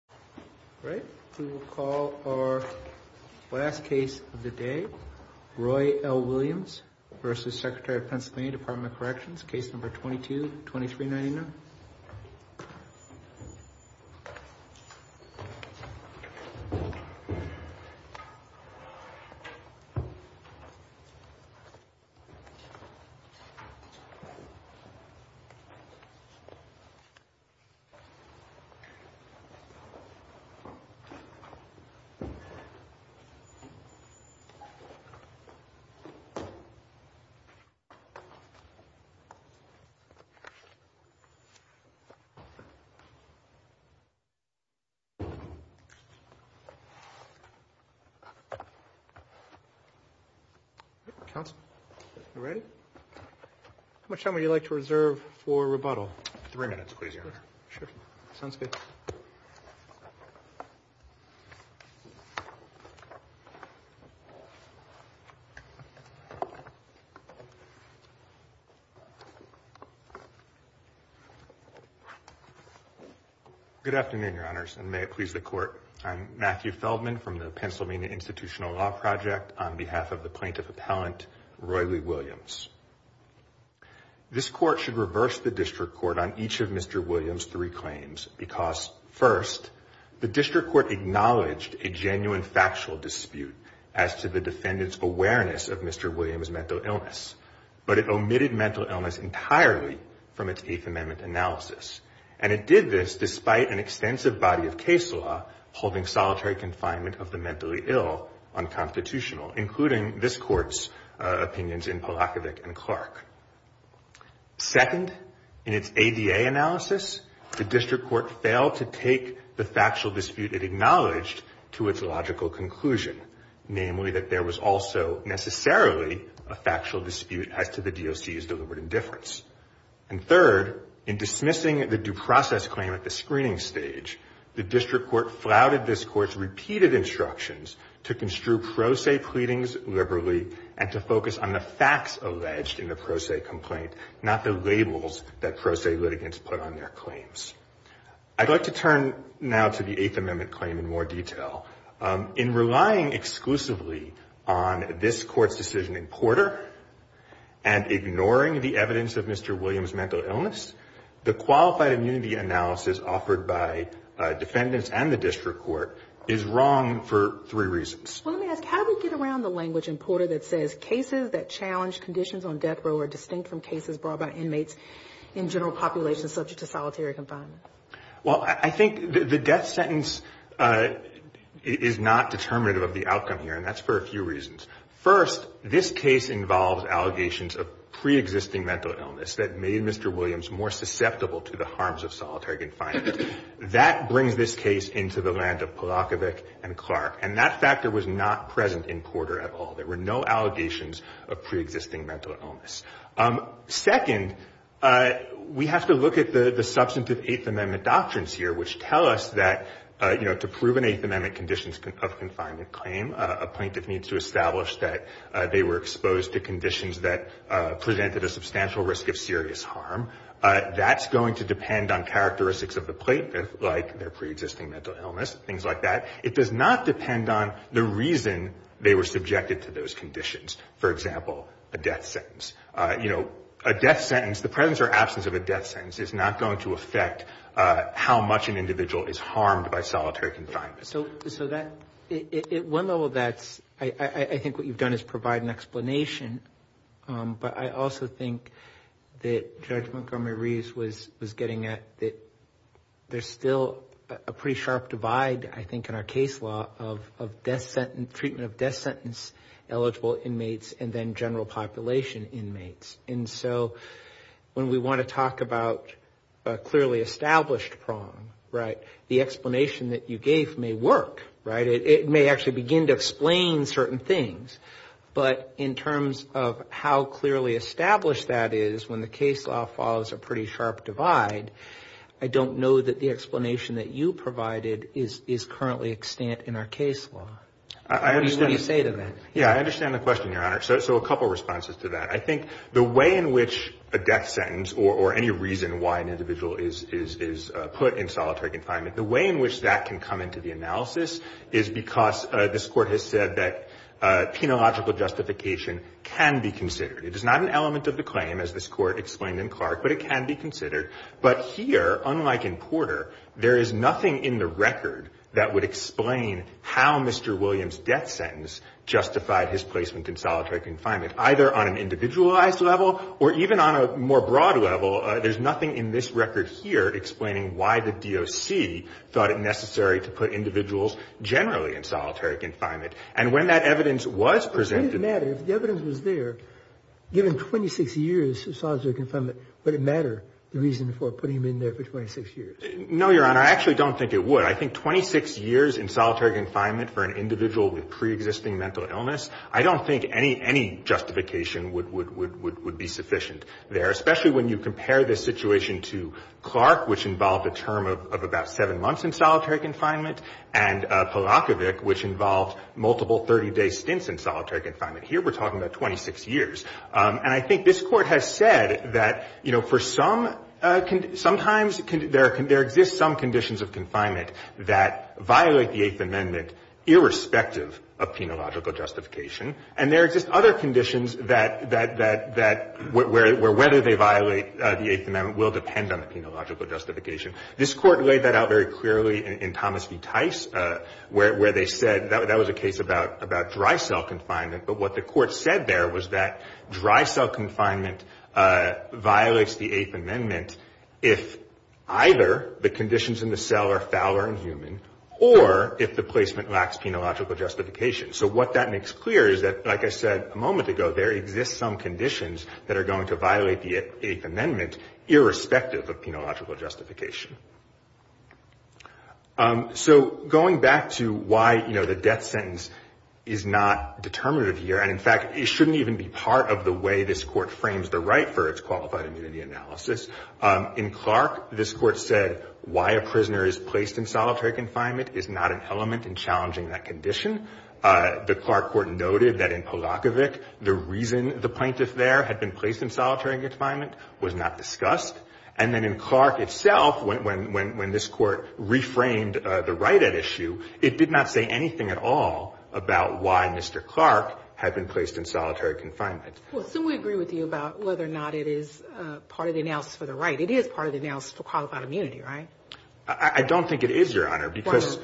Corrections, Case No. 22-2399. How much time would you like to reserve for rebuttal? Three minutes please, Your Honor. Sure. Sounds good. Good afternoon, Your Honors, and may it please the Court. I'm Matthew Feldman from the Pennsylvania Institutional Law Project on behalf of the Plaintiff Appellant Roy Lee Williams. This Court should reverse the District Court on each of Mr. Williams' three claims because, first, the District Court acknowledged a genuine factual dispute as to the defendant's awareness of Mr. Williams' mental illness, but it omitted mental illness entirely from its Eighth Amendment analysis. And it did this despite an extensive body of case law holding solitary confinement of the mentally ill unconstitutional, including this Court's opinions in Polakovic and Clark. Second, in its ADA analysis, the District Court failed to take the factual dispute it acknowledged to its logical conclusion, namely that there was also necessarily a factual dispute as to the DOC's deliberate indifference. And third, in dismissing the due process claim at the screening stage, the District Court flouted this Court's repeated instructions to construe pro se pleadings liberally and to focus on the facts alleged in the pro se complaint, not the labels that pro se litigants put on their claims. I'd like to turn now to the Eighth Amendment claim in more detail. In relying exclusively on this Court's decision in Porter and ignoring the evidence of Mr. Williams' mental illness, the qualified immunity analysis offered by defendants and the District Court is wrong for three reasons. Let me ask, how do we get around the language in Porter that says cases that challenge conditions on death row are distinct from cases brought by inmates in general populations subject to solitary confinement? Well, I think the death sentence is not determinative of the outcome here, and that's for a few reasons. First, this case involves allegations of preexisting mental illness that made Mr. Williams more susceptible to the harms of solitary confinement. That brings this case into the land of Polakovic and Clark, and that factor was not present in Porter at all. There were no allegations of preexisting mental illness. Second, we have to look at the substantive Eighth Amendment doctrines here, which tell us that, you know, to prove an Eighth Amendment conditions of confinement claim, a plaintiff needs to establish that they were exposed to conditions that presented a substantial risk of serious harm. That's going to depend on characteristics of the plaintiff, like their preexisting mental illness, things like that. It does not depend on the reason they were subjected to those conditions, for example, a death sentence. You know, a death sentence, the presence or absence of a death sentence is not going to affect how much an individual is harmed by solitary confinement. So that, at one level, that's, I think what you've done is provide an explanation, but I also think that Judge Montgomery Reeves was getting at that there's still a pretty sharp divide, I think, in our case law of death sentence, treatment of death sentence eligible inmates and then general population inmates. And so when we want to talk about a clearly established prong, right, the explanation that you gave may work, right? It may actually begin to explain certain things. But in terms of how clearly established that is, when the case law follows a pretty sharp divide, I don't know that the explanation that you provided is currently extant in our case law. What do you say to that? Yeah, I understand the question, Your Honor. So a couple of responses to that. I think the way in which a death sentence or any reason why an individual is put in solitary confinement, the way in which that can come into the analysis is because this Court has said that penological justification can be considered. It is not an element of the claim, as this Court explained in Clark, but it can be considered. But here, unlike in Porter, there is nothing in the record that would explain how Mr. Williams' death sentence justified his placement in solitary confinement, either on an individualized level or even on a more broad level. There's nothing in this record here explaining why the DOC thought it necessary to put individuals generally in solitary confinement. And when that evidence was presented – But would it matter if the evidence was there, given 26 years of solitary confinement, would it matter the reason for putting him in there for 26 years? No, Your Honor. I actually don't think it would. I think 26 years in solitary confinement for an individual with preexisting mental illness, I don't think any justification would be sufficient there, especially when you compare this situation to Clark, which involved a term of about seven months in solitary confinement, and Polakovic, which involved multiple 30-day stints in solitary confinement. Here, we're talking about 26 years. And I think this Court has said that, you know, for some – sometimes there exist some conditions of confinement that violate the Eighth Amendment, irrespective of penological justification. And there exist other conditions that – where whether they violate the Eighth Amendment will depend on the penological justification. This Court laid that out very clearly in Thomas v. Tice, where they said – that was a case about dry cell confinement. But what the Court said there was that dry cell confinement violates the Eighth Amendment if either the conditions in the cell are foul or inhuman, or if the placement lacks penological justification. So what that makes clear is that, like I said a moment ago, there exist some conditions that are going to violate the Eighth Amendment, irrespective of penological justification. So going back to why, you know, the death sentence is not determinative here – and in fact, it shouldn't even be part of the way this Court frames the right for its qualified immunity analysis. In Clark, this Court said why a prisoner is placed in solitary confinement is not an element in challenging that condition. The Clark Court noted that in Polakovic, the reason the plaintiff there had been placed in solitary confinement was not discussed. And then in Clark itself, when this Court reframed the right at issue, it did not say anything at all about why Mr. Clark had been placed in solitary confinement. Well, so we agree with you about whether or not it is part of the analysis for the right. It is part of the analysis for qualified immunity, right? I don't think it is, Your Honor, because,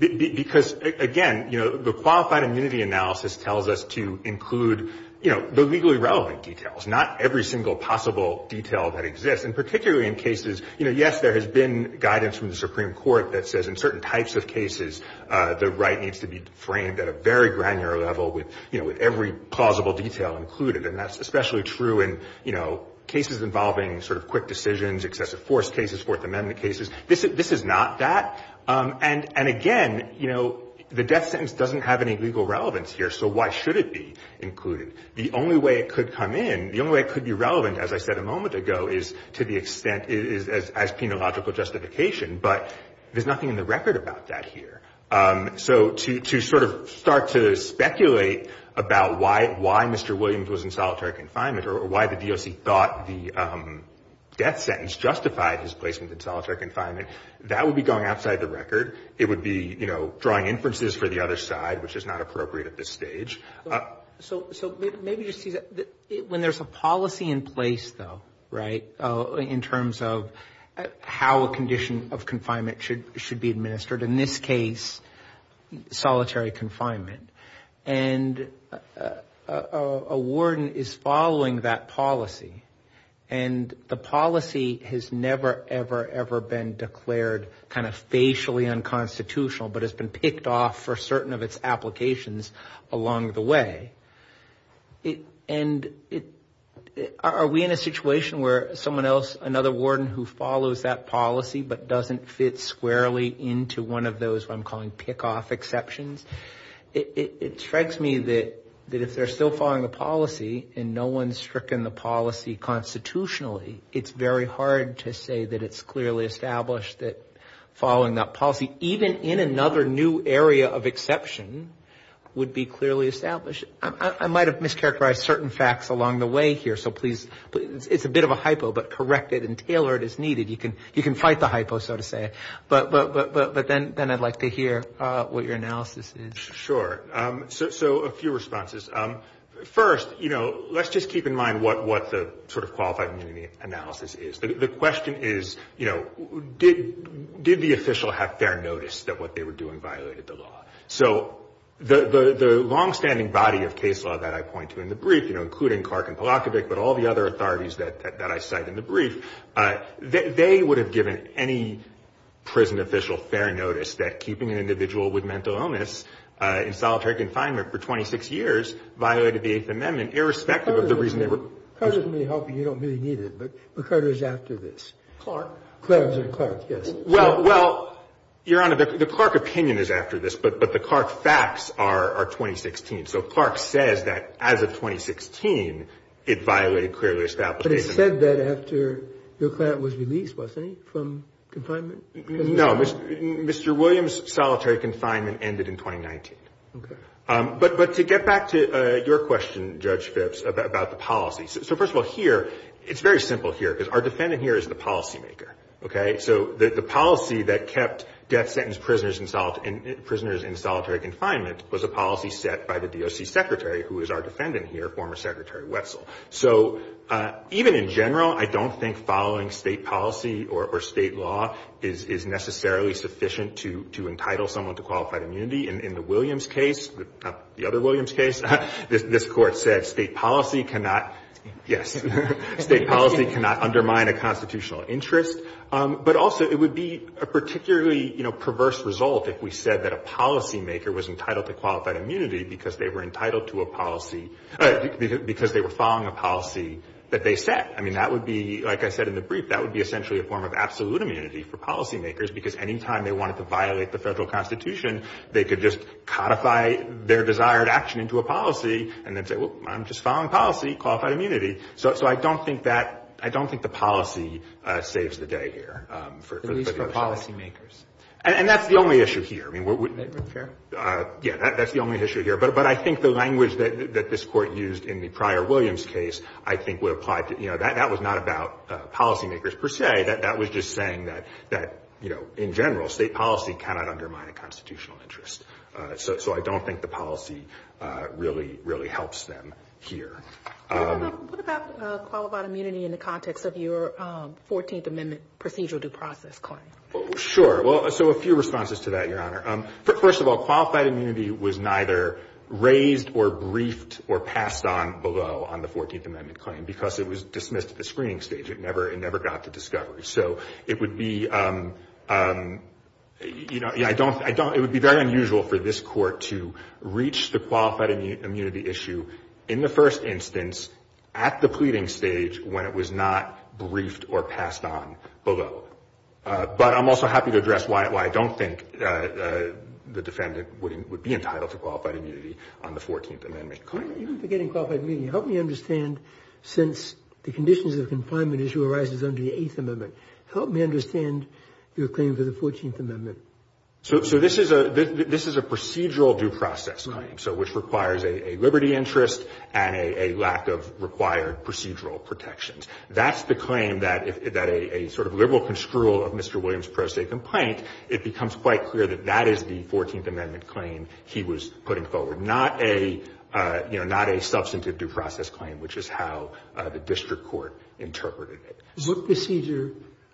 again, you know, the qualified immunity analysis tells us to include, you know, the legally relevant details, not every single possible detail that exists. And particularly in cases – you know, yes, there has been guidance from the Supreme Court that says in certain types of cases, the right needs to be framed at a very granular level with, you know, with every plausible detail included. And that's especially true in, you know, cases involving sort of quick decisions, excessive force cases, Fourth Amendment cases. This is not that. And, again, you know, the death sentence doesn't have any legal relevance here, so why should it be included? The only way it could come in, the only way it could be relevant, as I said a moment ago, is to the extent it is as penological justification. But there's nothing in the record about that here. So to sort of start to speculate about why Mr. Williams was in solitary confinement or why the DOC thought the death sentence justified his placement in solitary confinement, that would be going outside the record. It would be, you know, drawing inferences for the other side, which is not appropriate at this stage. So maybe you see that when there's a policy in place, though, right, in terms of how a condition of confinement should be administered, in this case solitary confinement, and a warden is following that policy and the policy has never, ever, ever been declared kind of facially unconstitutional but has been picked off for certain of its applications along the way. And are we in a situation where someone else, another warden who follows that policy but doesn't fit squarely into one of those what I'm calling pick-off exceptions? It strikes me that if they're still following the policy and no one's stricken the policy constitutionally, it's very hard to say that it's clearly established that following that policy, even in another new area of exception, would be clearly established. I might have mischaracterized certain facts along the way here, so please, it's a bit of a hypo, but correct it and tailor it as needed. You can fight the hypo, so to say. But then I'd like to hear what your analysis is. Sure. So a few responses. First, you know, let's just keep in mind what the sort of qualified immunity analysis is. The question is, you know, did the official have fair notice that what they were doing violated the law? So the longstanding body of case law that I point to in the brief, you know, including Clark and Polakovic but all the other authorities that I cite in the brief, they would have given any prison official fair notice that keeping an individual with mental illness in solitary confinement for 26 years violated the Eighth Amendment irrespective of the reason they were prisoned. That doesn't really help you. You don't really need it. But Carter is after this. Clark? Clark, yes. Well, Your Honor, the Clark opinion is after this, but the Clark facts are 2016. So Clark says that as of 2016, it violated clear list application. But it said that after your client was released, wasn't he, from confinement? No. Mr. Williams' solitary confinement ended in 2019. Okay. But to get back to your question, Judge Phipps, about the policy. So first of all, here, it's very simple here because our defendant here is the policymaker. Okay? So the policy that kept death sentence prisoners in solitary confinement was a policy set by the DOC secretary, who is our defendant here, former Secretary Wetzel. So even in general, I don't think following state policy or state law is necessarily sufficient to entitle someone to qualified immunity. In the Williams case, the other Williams case, this court said state policy cannot, yes, state policy cannot undermine a constitutional interest. But also, it would be a particularly, you know, perverse result if we said that a policymaker was entitled to qualified immunity because they were entitled to a policy, because they were following a policy that they set. I mean, that would be, like I said in the brief, that would be essentially a form of absolute immunity for them to just codify their desired action into a policy and then say, well, I'm just following policy, qualified immunity. So I don't think that, I don't think the policy saves the day here. At least for policymakers. And that's the only issue here. Fair? Yeah, that's the only issue here. But I think the language that this court used in the prior Williams case, I think, would apply to, you know, that was not about policymakers per se. That was just saying that, you know, in general, state policy cannot undermine a constitutional interest. So I don't think the policy really, really helps them here. What about qualified immunity in the context of your 14th Amendment procedural due process claim? Sure. Well, so a few responses to that, Your Honor. First of all, qualified immunity was neither raised or briefed or passed on below on the 14th Amendment claim because it was dismissed at the screening stage. It never got to discovery. So it would be, you know, I don't, it would be very unusual for this court to reach the qualified immunity issue in the first instance at the pleading stage when it was not briefed or passed on below. But I'm also happy to address why I don't think the defendant would be entitled to qualified immunity on the 14th Amendment claim. Even forgetting qualified immunity, help me understand, since the conditions of confinement issue arises under the 8th Amendment, help me understand your claim for the 14th Amendment. So this is a procedural due process claim, so which requires a liberty interest and a lack of required procedural protections. That's the claim that a sort of liberal construal of Mr. Williams' pro se complaint, it becomes quite clear that that is the 14th Amendment claim he was putting forward, not a, you know, not a substantive due process claim, which is how the district court interpreted it. So what procedure,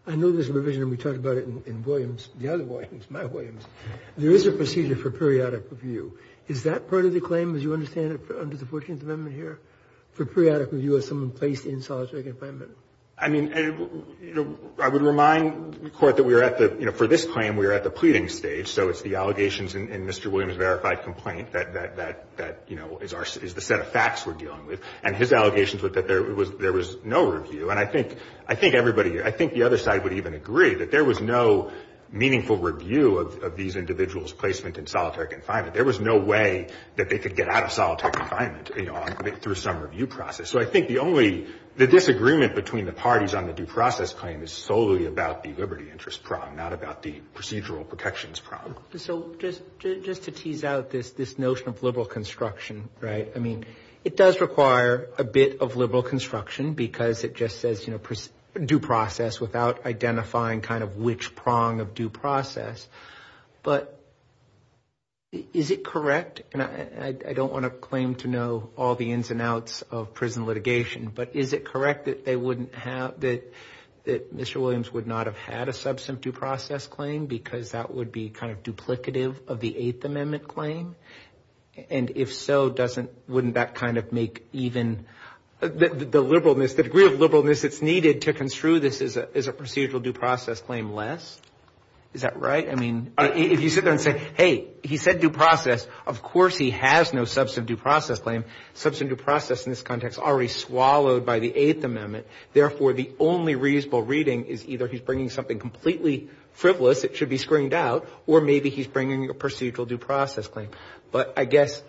I know there's a revision and we talked about it in Williams, the other Williams, my Williams. There is a procedure for periodic review. Is that part of the claim as you understand it under the 14th Amendment here, for periodic review as someone placed in solitary confinement? I mean, I would remind the Court that we are at the, you know, for this claim we are at the pleading stage, so it's the allegations in Mr. Williams' verified complaint that, you know, is the set of facts we're dealing with. And his allegations were that there was no review. And I think everybody, I think the other side would even agree that there was no meaningful review of these individuals' placement in solitary confinement. There was no way that they could get out of solitary confinement, you know, through some review process. So I think the only, the disagreement between the parties on the due process claim is solely about the liberty interest problem, not about the procedural protections problem. So just to tease out this notion of liberal construction, right, I mean, it does require a bit of liberal construction because it just says, you know, due process without identifying kind of which prong of due process. But is it correct, and I don't want to claim to know all the ins and outs of prison litigation, but is it correct that they wouldn't have, that Mr. Williams would not have had a substantive due process claim because that would be kind of duplicative of the Eighth Amendment claim? And if so, doesn't, wouldn't that kind of make even the liberalness, the degree of liberalness that's needed to construe this as a procedural due process claim less? Is that right? I mean, if you sit there and say, hey, he said due process, of course he has no substantive due process claim. Substantive due process in this context is already swallowed by the Eighth Amendment. Therefore, the only reasonable reading is either he's bringing something completely frivolous that should be screened out or maybe he's bringing a procedural due process claim. But I guess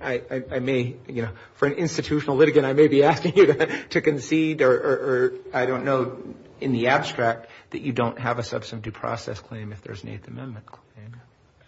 I may, you know, for an institutional litigant, I may be asking you to concede or I don't know in the abstract that you don't have a substantive due process claim if there's an Eighth Amendment claim.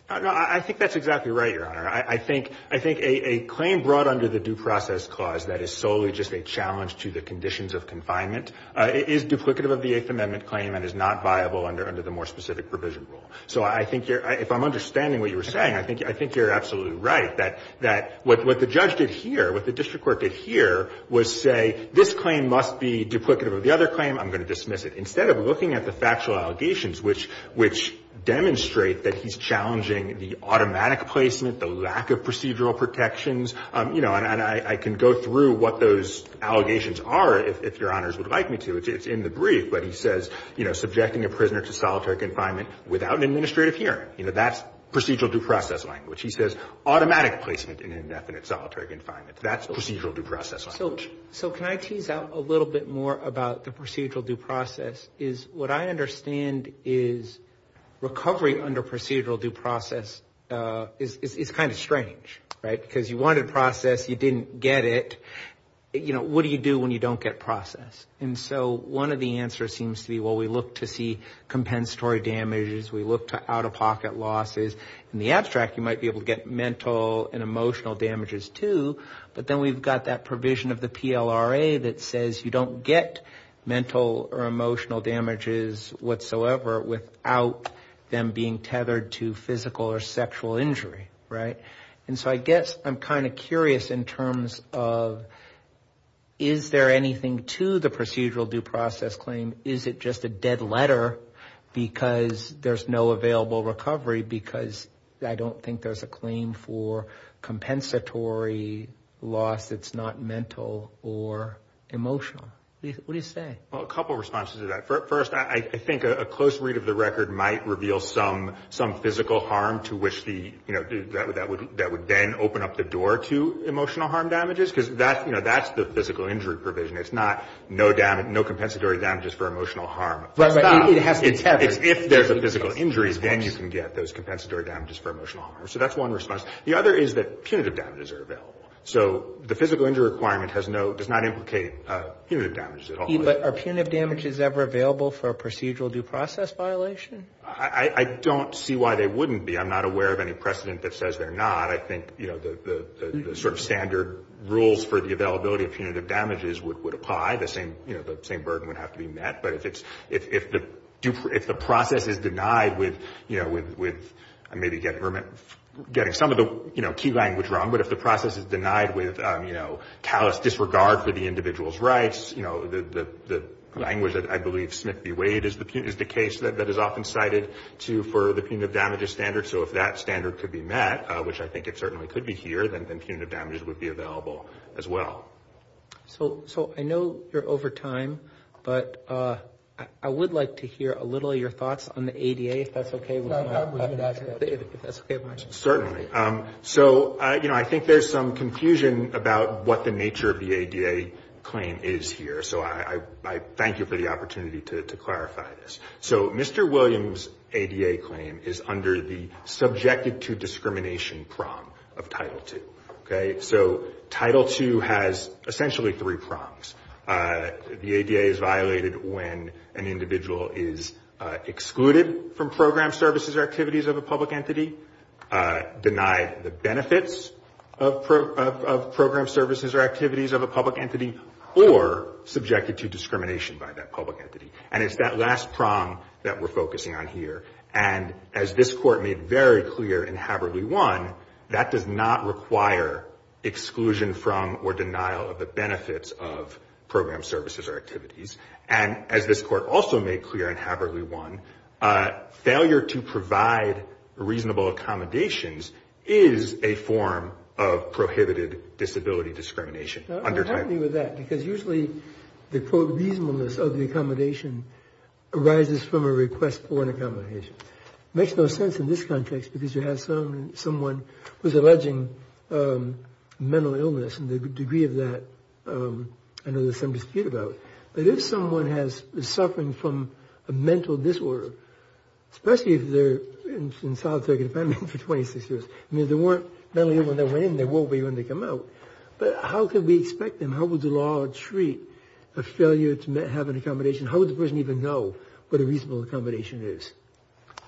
No, I think that's exactly right, Your Honor. I think a claim brought under the due process clause that is solely just a challenge to the conditions of confinement is duplicative of the Eighth Amendment claim and is not viable under the more specific provision rule. So I think you're, if I'm understanding what you were saying, I think you're absolutely right, that what the judge did here, what the district court did here was say, this claim must be duplicative of the other claim, I'm going to dismiss it. Instead of looking at the factual allegations, which demonstrate that he's challenging the automatic placement, the lack of procedural protections, you know, and I can go through what those allegations are if Your Honors would like me to. It's in the brief. But he says, you know, subjecting a prisoner to solitary confinement without an administrative hearing. You know, that's procedural due process language. He says automatic placement in indefinite solitary confinement. That's procedural due process language. So can I tease out a little bit more about the procedural due process? What I understand is recovery under procedural due process is kind of strange, right? Because you wanted process, you didn't get it. You know, what do you do when you don't get process? And so one of the answers seems to be, well, we look to see compensatory damages, we look to out-of-pocket losses. In the abstract, you might be able to get mental and emotional damages too, but then we've got that provision of the PLRA that says you don't get mental or emotional damages whatsoever without them being tethered to physical or sexual injury, right? And so I guess I'm kind of curious in terms of is there anything to the procedural due process claim? Is it just a dead letter because there's no available recovery because I don't think there's a claim for compensatory loss that's not mental or emotional? What do you say? Well, a couple of responses to that. First, I think a close read of the record might reveal some physical harm to which the, you know, that would then open up the door to emotional harm damages because that's the physical injury provision. It's not no compensatory damages for emotional harm. But it has to be tethered. If there's a physical injury, then you can get those compensatory damages for emotional harm. So that's one response. The other is that punitive damages are available. So the physical injury requirement has no, does not implicate punitive damages at all. But are punitive damages ever available for a procedural due process violation? I don't see why they wouldn't be. I'm not aware of any precedent that says they're not. I think, you know, the sort of standard rules for the availability of punitive damages would apply. The same, you know, the same burden would have to be met. But if it's, if the process is denied with, you know, with maybe getting some of the, you know, key language wrong, but if the process is denied with, you know, callous disregard for the individual's rights, you know, the language that I believe Smith B. Wade is the case that is often cited for the punitive damages standard. So if that standard could be met, which I think it certainly could be here, then punitive damages would be available as well. So, so I know you're over time, but I would like to hear a little of your thoughts on the ADA, if that's okay with you. If that's okay with you. Certainly. So, you know, I think there's some confusion about what the nature of the ADA claim is here. So I thank you for the opportunity to clarify this. So Mr. Williams' ADA claim is under the subjected to discrimination prong of Title II. Okay. So Title II has essentially three prongs. The ADA is violated when an individual is excluded from program services or activities of a public entity, denied the benefits of program services or activities of a public entity, or subjected to discrimination by that public entity. And it's that last prong that we're focusing on here. And as this Court made very clear in Haberly 1, that does not require exclusion from or denial of the benefits of program services or activities. And as this Court also made clear in Haberly 1, failure to provide reasonable accommodations is a form of prohibited disability discrimination. I'm happy with that, because usually the quote reasonableness of the accommodation arises from a request for an accommodation. It makes no sense in this context, because you have someone who's alleging mental illness, and the degree of that I know there's some dispute about. But if someone is suffering from a mental disorder, especially if they're in solitary confinement for 26 years, I mean, if they weren't mentally ill when they went in, they won't be when they come out. But how can we expect them? How would the law treat a failure to have an accommodation? How would the person even know what a reasonable accommodation is?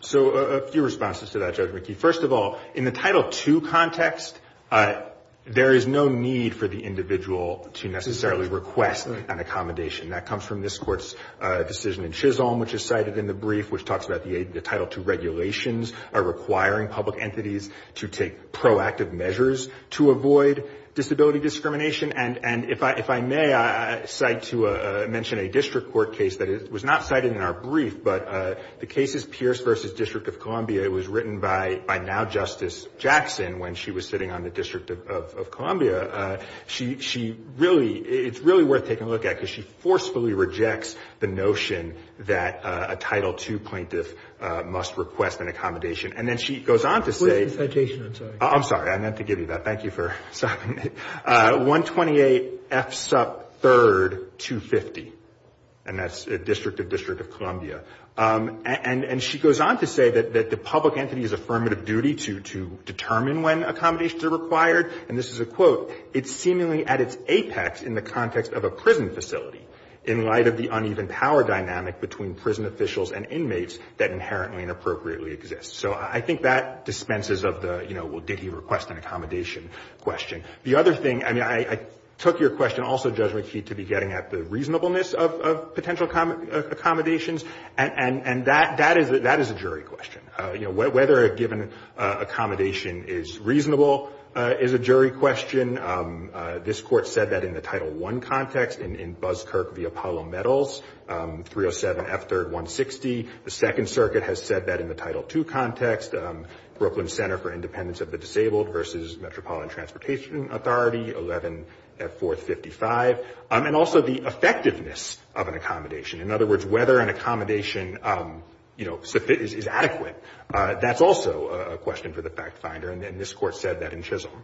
So a few responses to that, Judge McKee. First of all, in the Title II context, there is no need for the individual to necessarily request an accommodation. That comes from this Court's decision in Chisholm, which is cited in the brief, which talks about the Title II regulations are requiring public entities to take proactive measures to avoid disability discrimination. And if I may cite to mention a district court case that was not cited in our brief, but the case is Pierce v. District of Columbia. It was written by now-Justice Jackson when she was sitting on the District of Columbia. She really, it's really worth taking a look at because she forcefully rejects the notion that a Title II plaintiff must request an accommodation. And then she goes on to say. Where's the citation? I'm sorry. I'm sorry. I meant to give you that. Thank you for citing it. 128 F. Sup. 3rd, 250. And that's District of District of Columbia. And she goes on to say that the public entity has affirmative duty to determine when accommodations are required. And this is a quote. It's seemingly at its apex in the context of a prison facility in light of the uneven power dynamic between prison officials and inmates that inherently and appropriately exist. So I think that dispenses of the, you know, well, did he request an accommodation question. The other thing, I mean, I took your question also, Judge McKeith, to be getting at the reasonableness of potential accommodations. And that is a jury question. You know, whether a given accommodation is reasonable is a jury question. This Court said that in the Title I context in Buskirk v. Apollo Metals, 307 F. 3rd, 160. The Second Circuit has said that in the Title II context. Brooklyn Center for Independence of the Disabled v. Metropolitan Transportation Authority, 11 F. 4th, 55. And also the effectiveness of an accommodation. In other words, whether an accommodation, you know, is adequate, that's also a question for the fact finder. And this Court said that in Chisholm.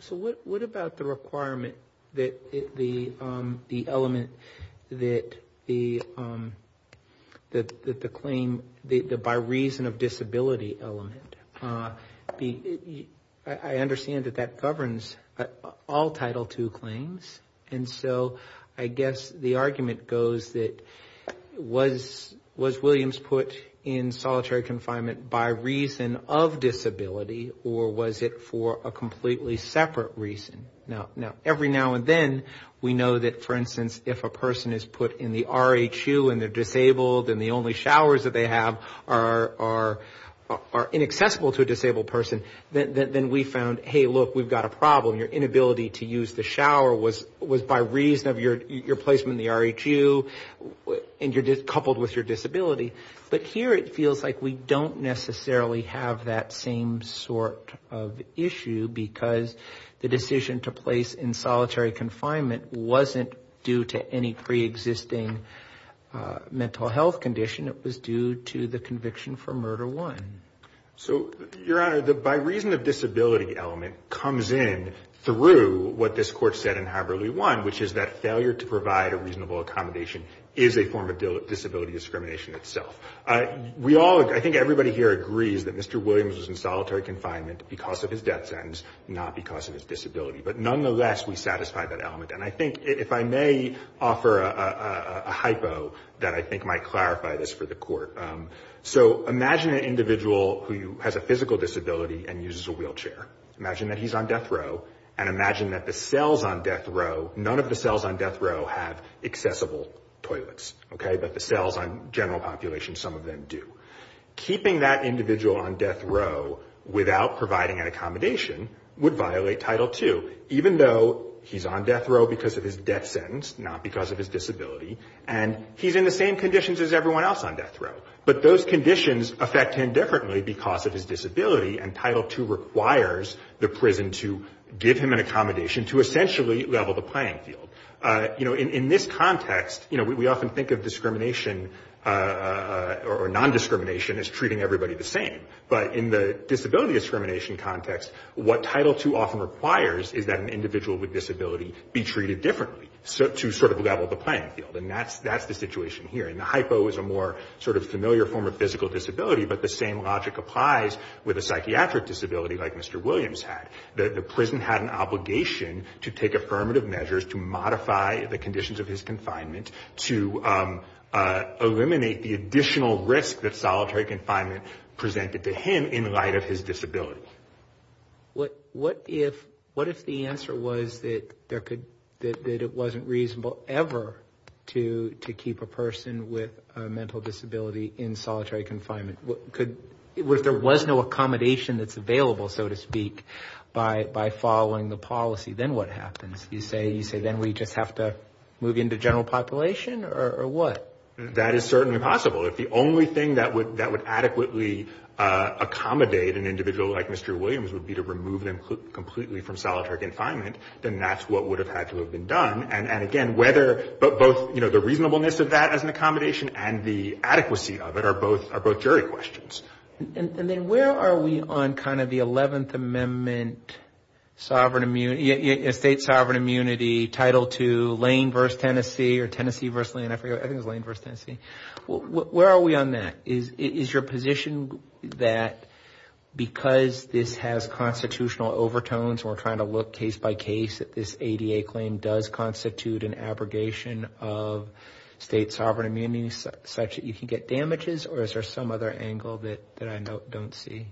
So what about the requirement that the element that the claim, the by reason of disability element, I understand that that governs all Title II claims. And so I guess the argument goes that was Williams put in solitary confinement by reason of disability, or was it for a completely separate reason? Now, every now and then we know that, for instance, if a person is put in the RHU and they're disabled and the only showers that they have are inaccessible to a disabled person, then we found, hey, look, we've got a problem. Your inability to use the shower was by reason of your placement in the RHU and you're coupled with your disability. But here it feels like we don't necessarily have that same sort of issue because the decision to place in solitary confinement wasn't due to any preexisting mental health condition. It was due to the conviction for murder one. So, Your Honor, the by reason of disability element comes in through what this Court said in Haberly 1, which is that failure to provide a reasonable accommodation is a form of disability discrimination itself. We all, I think everybody here agrees that Mr. Williams was in solitary confinement because of his death sentence, not because of his disability. But nonetheless, we satisfy that element. And I think if I may offer a hypo that I think might clarify this for the Court. So imagine an individual who has a physical disability and uses a wheelchair. Imagine that he's on death row and imagine that the cells on death row, none of the cells on death row have accessible toilets. Okay? But the cells on general population, some of them do. Keeping that individual on death row without providing an accommodation would violate Title II, even though he's on death row because of his death sentence, not because of his disability, and he's in the same conditions as everyone else on death row. But those conditions affect him differently because of his disability, and Title II requires the prison to give him an accommodation to essentially level the playing field. You know, in this context, you know, we often think of discrimination or nondiscrimination as treating everybody the same. But in the disability discrimination context, what Title II often requires is that an individual with disability be treated differently to sort of level the playing field. And that's the situation here. And the hypo is a more sort of familiar form of physical disability, but the same logic applies with a psychiatric disability like Mr. Williams had. The prison had an obligation to take affirmative measures to modify the conditions of his confinement to eliminate the additional risk that solitary confinement presented to him in light of his disability. What if the answer was that it wasn't reasonable ever to keep a person with a mental disability in solitary confinement? If there was no accommodation that's available, so to speak, by following the policy, then what happens? You say then we just have to move into general population, or what? That is certainly possible. If the only thing that would adequately accommodate an individual like Mr. Williams would be to remove them completely from solitary confinement, then that's what would have had to have been done. And, again, whether both the reasonableness of that as an accommodation and the adequacy of it are both jury questions. And then where are we on kind of the 11th Amendment sovereign immunity, state sovereign immunity, Title II, Lane v. Tennessee, or Tennessee v. Lane, I forget, I think it was Lane v. Tennessee. Where are we on that? Is your position that because this has constitutional overtones, we're trying to look case by case, that this ADA claim does constitute an abrogation of state sovereign immunity such that you can get damages? Or is there some other angle that I don't see?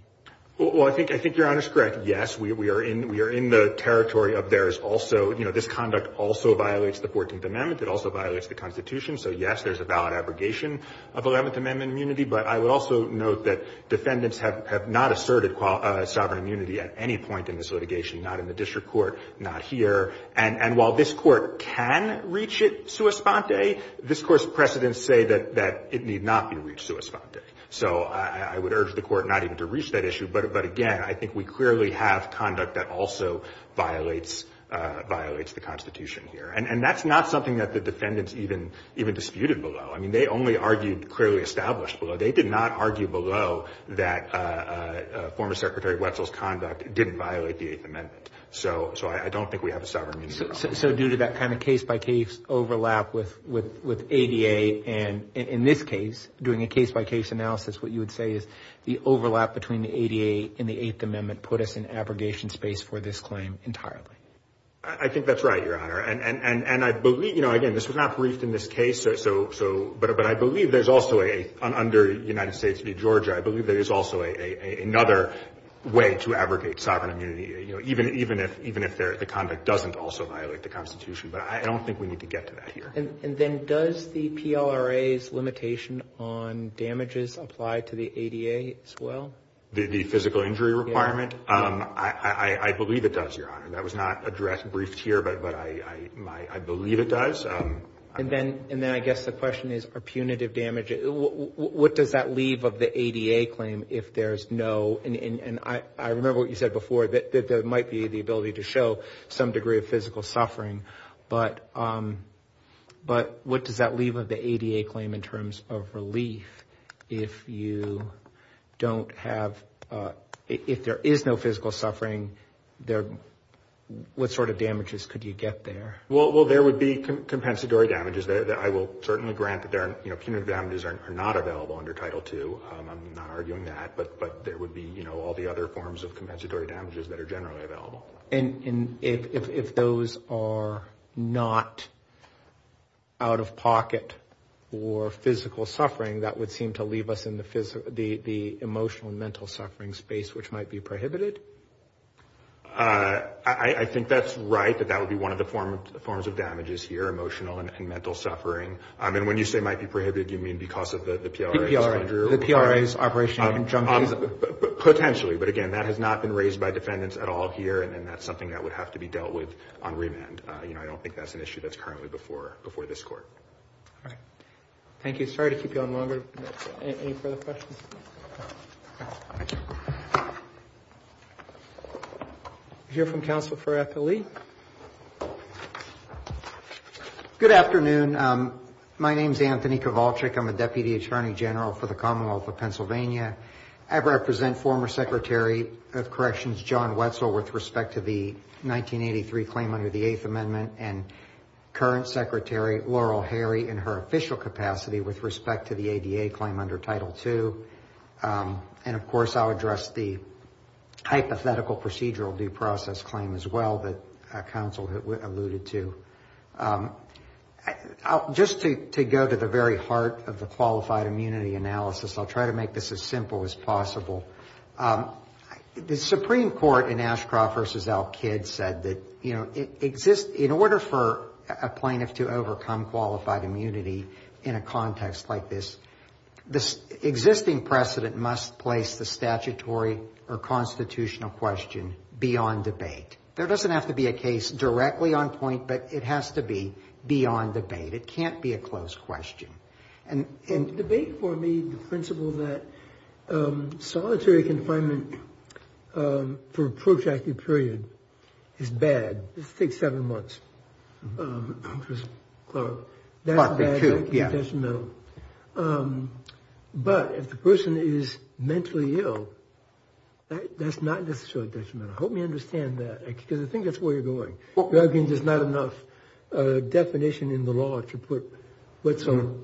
Well, I think your Honor's correct. Yes, we are in the territory of there is also, you know, this conduct also violates the 14th Amendment. It also violates the Constitution. So, yes, there's a valid abrogation of 11th Amendment immunity. But I would also note that defendants have not asserted sovereign immunity at any point in this litigation, not in the district court, not here. And while this Court can reach it sua sponte, this Court's precedents say that it need not be reached sua sponte. So I would urge the Court not even to reach that issue. But, again, I think we clearly have conduct that also violates the Constitution here. And that's not something that the defendants even disputed below. I mean, they only argued clearly established below. They did not argue below that former Secretary Wetzel's conduct didn't violate the 8th Amendment. So I don't think we have a sovereign immunity problem. So due to that kind of case-by-case overlap with ADA and, in this case, doing a case-by-case analysis, what you would say is the overlap between the ADA and the 8th Amendment put us in abrogation space for this claim entirely. I think that's right, Your Honor. And I believe, you know, again, this was not briefed in this case. But I believe there's also a, under United States v. Georgia, I believe there is also another way to abrogate sovereign immunity. You know, even if the conduct doesn't also violate the Constitution. But I don't think we need to get to that here. And then does the PLRA's limitation on damages apply to the ADA as well? The physical injury requirement? Yes. I believe it does, Your Honor. That was not addressed, briefed here. But I believe it does. And then I guess the question is, are punitive damages – what does that leave of the ADA claim if there's no – and I remember what you said before, that there might be the ability to show some degree of physical suffering. But what does that leave of the ADA claim in terms of relief if you don't have – if there is no physical suffering, what sort of damages could you get there? Well, there would be compensatory damages. I will certainly grant that punitive damages are not available under Title II. I'm not arguing that. But there would be, you know, all the other forms of compensatory damages that are generally available. And if those are not out-of-pocket or physical suffering, that would seem to leave us in the emotional and mental suffering space, which might be prohibited? I think that's right, that that would be one of the forms of damages here, emotional and mental suffering. And when you say might be prohibited, do you mean because of the PRA? The PRA's operation in conjunction. Potentially. But, again, that has not been raised by defendants at all here, and that's something that would have to be dealt with on remand. You know, I don't think that's an issue that's currently before this Court. All right. Thank you. Sorry to keep you on longer. Any further questions? No. Thank you. We'll hear from counsel for FLE. Good afternoon. My name is Anthony Kowalczyk. I'm a Deputy Attorney General for the Commonwealth of Pennsylvania. I represent former Secretary of Corrections John Wetzel with respect to the 1983 claim under the Eighth Amendment and current Secretary Laurel Harry in her official capacity with respect to the ADA claim under Title II. And, of course, I'll address the hypothetical procedural due process claim as well, that counsel alluded to. Just to go to the very heart of the qualified immunity analysis, I'll try to make this as simple as possible. The Supreme Court in Ashcroft v. Al-Kid said that, you know, in order for a plaintiff to overcome qualified immunity in a context like this, the existing precedent must place the statutory or constitutional question beyond debate. There doesn't have to be a case directly on point, but it has to be beyond debate. It can't be a closed question. And debate for me, the principle that solitary confinement for a protracted period is bad, it takes seven months. That's bad. That's detrimental. But if the person is mentally ill, that's not necessarily detrimental. Help me understand that, because I think that's where you're going. There's not enough definition in the law to put Wetzel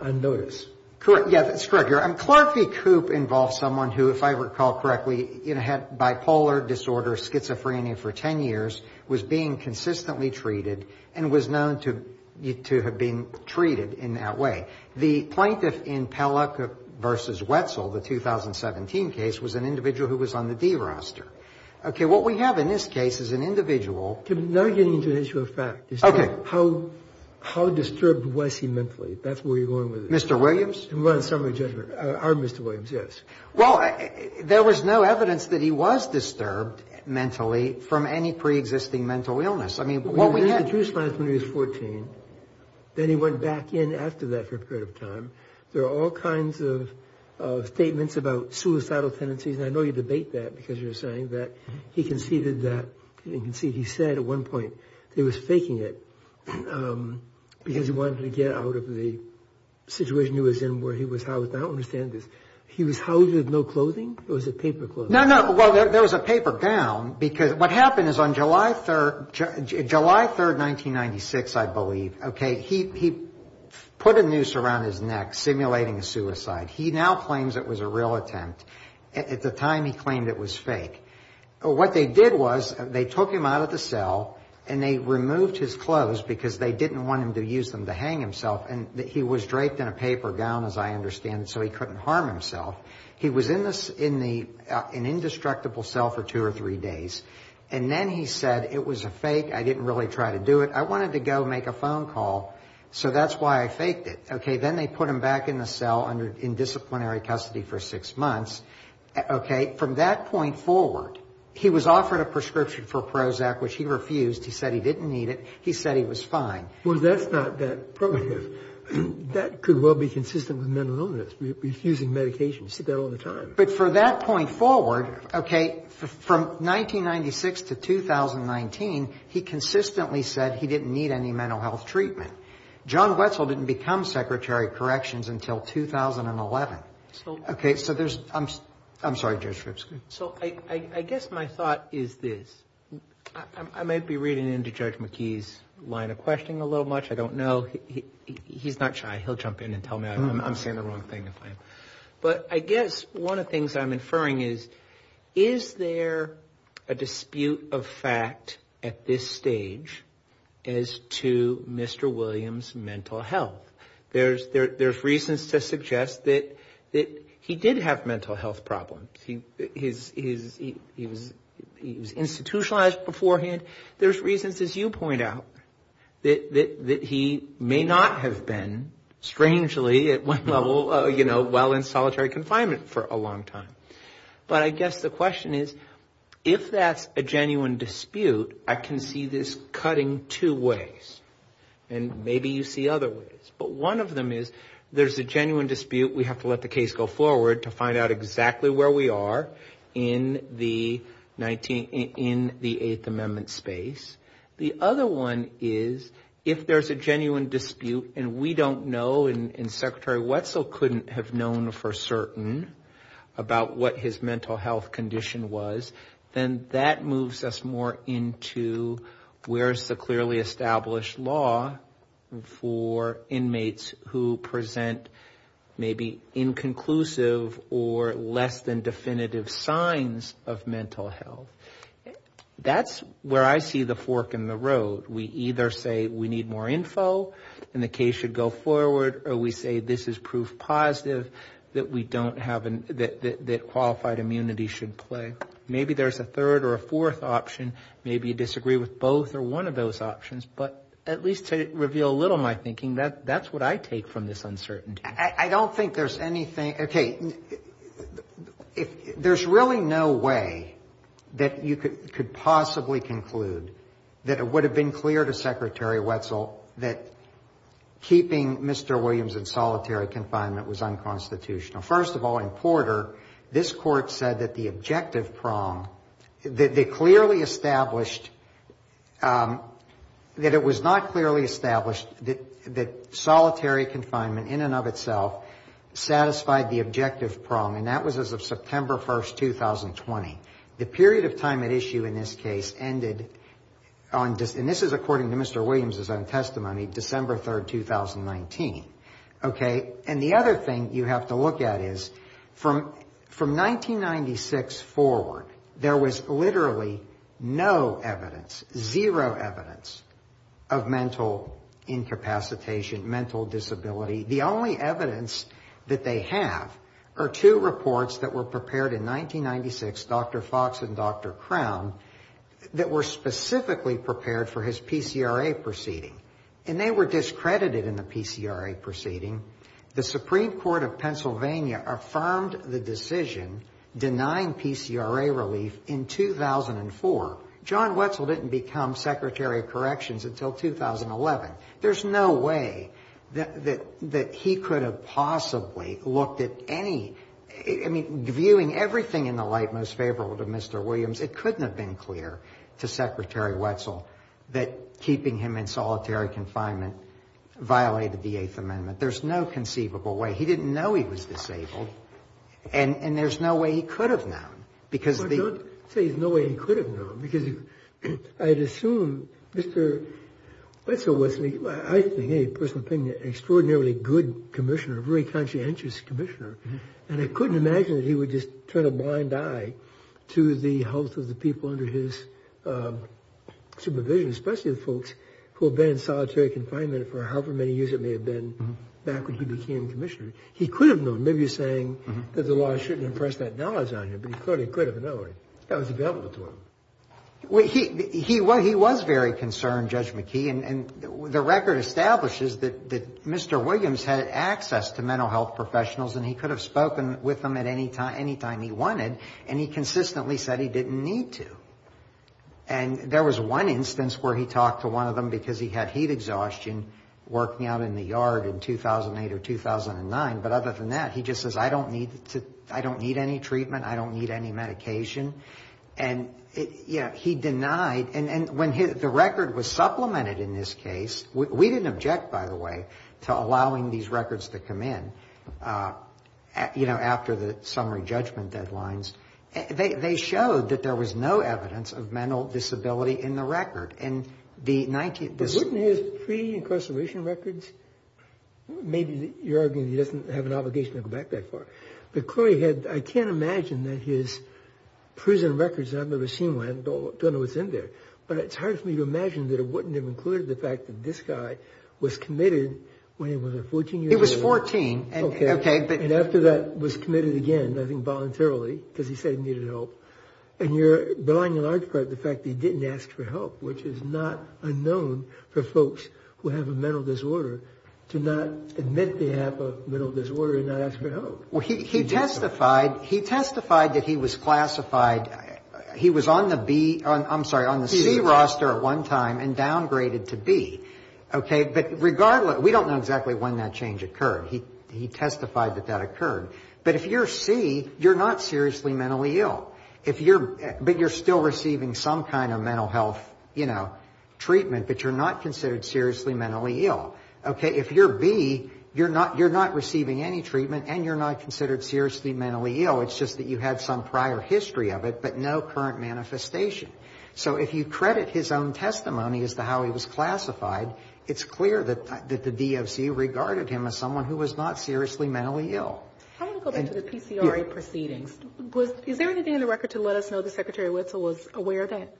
on notice. Correct. Yeah, that's correct. And Clarke v. Koop involves someone who, if I recall correctly, you know, had bipolar disorder, schizophrenia for 10 years, was being consistently treated, and was known to have been treated in that way. The plaintiff in Pellock v. Wetzel, the 2017 case, was an individual who was on the D roster. Okay. What we have in this case is an individual. To never get into the issue of fact. Okay. How disturbed was he mentally? That's where you're going with it. Mr. Williams? We want a summary judgment. Our Mr. Williams, yes. Well, there was no evidence that he was disturbed mentally from any preexisting mental illness. I mean, what we have – When he was 14, then he went back in after that for a period of time. There are all kinds of statements about suicidal tendencies, and I know you debate that because you're saying that he conceded that – he said at one point that he was faking it because he wanted to get out of the situation he was in where he was housed. I don't understand this. He was housed with no clothing or was it paper clothing? No, no. Well, there was a paper gown because what happened is on July 3rd, 1996, I believe, okay, he put a noose around his neck simulating a suicide. He now claims it was a real attempt. At the time, he claimed it was fake. What they did was they took him out of the cell, and they removed his clothes because they didn't want him to use them to hang himself, and he was draped in a paper gown, as I understand it, so he couldn't harm himself. He was in the – in an indestructible cell for two or three days, and then he said it was a fake, I didn't really try to do it. I wanted to go make a phone call, so that's why I faked it. Okay. Then they put him back in the cell in disciplinary custody for six months. Okay. From that point forward, he was offered a prescription for Prozac, which he refused. He said he didn't need it. He said he was fine. Well, that's not that progressive. That could well be consistent with mental illness, refusing medication. You see that all the time. But for that point forward, okay, from 1996 to 2019, he consistently said he didn't need any mental health treatment. John Wetzel didn't become Secretary of Corrections until 2011. So – Okay, so there's – I'm sorry, Judge Scripski. So I guess my thought is this. I might be reading into Judge McKee's line of questioning a little much. I don't know. He's not shy. He'll jump in and tell me I'm saying the wrong thing. But I guess one of the things I'm inferring is, is there a dispute of fact at this stage as to Mr. Williams' mental health? There's reasons to suggest that he did have mental health problems. He was institutionalized beforehand. There's reasons, as you point out, that he may not have been, strangely, at one level while in solitary confinement for a long time. But I guess the question is, if that's a genuine dispute, I can see this cutting two ways. And maybe you see other ways. But one of them is there's a genuine dispute. We have to let the case go forward to find out exactly where we are in the Eighth Amendment space. The other one is, if there's a genuine dispute and we don't know and Secretary Wetzel couldn't have known for certain about what his mental health condition was, then that moves us more into where is the clearly established law for inmates who present maybe inconclusive or less than definitive signs of mental health. That's where I see the fork in the road. We either say we need more info and the case should go forward, or we say this is proof positive that qualified immunity should play. Maybe there's a third or a fourth option. Maybe you disagree with both or one of those options. But at least to reveal a little of my thinking, that's what I take from this uncertainty. I don't think there's anything. Okay. There's really no way that you could possibly conclude that it would have been clear to Secretary Wetzel that keeping Mr. Williams in solitary confinement was unconstitutional. First of all, in Porter, this Court said that the objective prong, that they clearly established that it was not clearly established that solitary confinement in and of itself satisfied the objective prong, and that was as of September 1, 2020. The period of time at issue in this case ended on, and this is according to Mr. Williams' own testimony, December 3, 2019. Okay. And the other thing you have to look at is from 1996 forward, there was literally no evidence, zero evidence of mental incapacitation, mental disability. The only evidence that they have are two reports that were prepared in 1996, Dr. Fox and Dr. Crown, that were specifically prepared for his PCRA proceeding. And they were discredited in the PCRA proceeding. The Supreme Court of Pennsylvania affirmed the decision denying PCRA relief in 2004. John Wetzel didn't become Secretary of Corrections until 2011. There's no way that he could have possibly looked at any, I mean, viewing everything in the light most favorable to Mr. Williams, it couldn't have been clear to Secretary Wetzel that keeping him in solitary confinement violated the Eighth Amendment. There's no conceivable way. He didn't know he was disabled, and there's no way he could have known. But don't say there's no way he could have known, because I'd assume Mr. Wetzel was, I think, in any personal opinion, an extraordinarily good commissioner, a very conscientious commissioner, and I couldn't imagine that he would just turn a blind eye to the health of the people under his supervision, especially the folks who have been in solitary confinement for however many years it may have been back when he became commissioner. He could have known. Maybe you're saying that the law shouldn't impress that knowledge on you, but he clearly could have known. That was available to him. Well, he was very concerned, Judge McKee, and the record establishes that Mr. Williams had access to mental health professionals, and he could have spoken with them at any time he wanted, and he consistently said he didn't need to. And there was one instance where he talked to one of them because he had heat exhaustion working out in the yard in 2008 or 2009, but other than that, he just says, I don't need any treatment. I don't need any medication. And, you know, he denied. And when the record was supplemented in this case, we didn't object, by the way, to allowing these records to come in, you know, after the summary judgment deadlines. They showed that there was no evidence of mental disability in the record. And the 19th – But wouldn't his pre-incarceration records – maybe you're arguing he doesn't have an obligation to go back that far. But clearly he had – I can't imagine that his prison records, I've never seen one, don't know what's in there. But it's hard for me to imagine that it wouldn't have included the fact that this guy was committed when he was a 14-year-old. He was 14. Okay. And after that was committed again, I think voluntarily, because he said he needed help. And you're denying in large part the fact that he didn't ask for help, which is not unknown for folks who have a mental disorder to not admit they have a mental disorder and not ask for help. Well, he testified that he was classified – he was on the B – I'm sorry, on the C roster at one time and downgraded to B. Okay. But regardless – we don't know exactly when that change occurred. He testified that that occurred. But if you're C, you're not seriously mentally ill. If you're – but you're still receiving some kind of mental health, you know, treatment, but you're not considered seriously mentally ill. Okay. If you're B, you're not receiving any treatment and you're not considered seriously mentally ill. It's just that you had some prior history of it, but no current manifestation. So if you credit his own testimony as to how he was classified, it's clear that the DFC regarded him as someone who was not seriously mentally ill. I want to go back to the PCRA proceedings. Is there anything in the record to let us know that Secretary Wetzel was aware of that?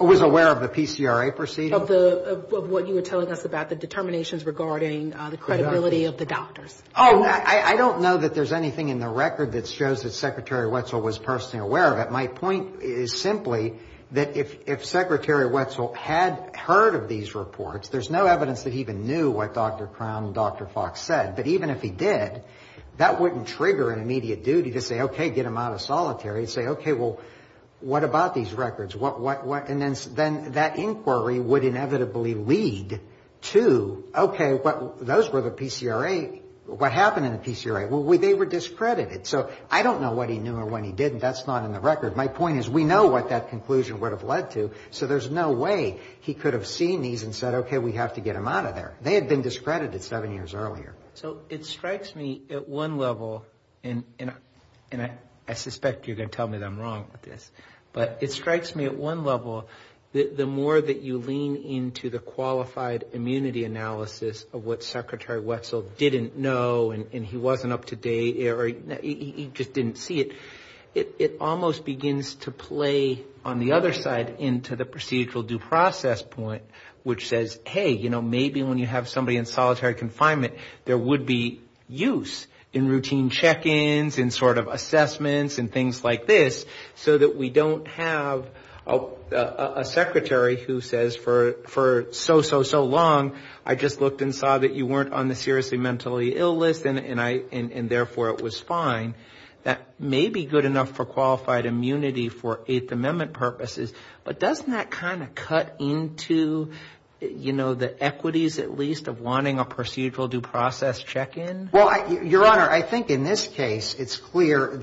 Was aware of the PCRA proceedings? Of the – of what you were telling us about the determinations regarding the credibility of the doctors. Oh, I don't know that there's anything in the record that shows that Secretary Wetzel was personally aware of it. My point is simply that if Secretary Wetzel had heard of these reports, there's no evidence that he even knew what Dr. Crown and Dr. Fox said. But even if he did, that wouldn't trigger an immediate duty to say, okay, get him out of solitary. Say, okay, well, what about these records? And then that inquiry would inevitably lead to, okay, those were the PCRA. What happened in the PCRA? Well, they were discredited. So I don't know what he knew or what he didn't. That's not in the record. My point is we know what that conclusion would have led to, so there's no way he could have seen these and said, okay, we have to get him out of there. They had been discredited seven years earlier. So it strikes me at one level, and I suspect you're going to tell me that I'm wrong with this, but it strikes me at one level the more that you lean into the qualified immunity analysis of what Secretary Wetzel didn't know and he wasn't up to date or he just didn't see it. It almost begins to play on the other side into the procedural due process point, which says, hey, you know, maybe when you have somebody in solitary confinement, there would be use in routine check-ins and sort of assessments and things like this, so that we don't have a secretary who says for so, so, so long, I just looked and saw that you weren't on the seriously mentally ill list, and therefore it was fine. That may be good enough for qualified immunity for Eighth Amendment purposes, but doesn't that kind of cut into, you know, the equities at least of wanting a procedural due process check-in? Well, Your Honor, I think in this case it's clear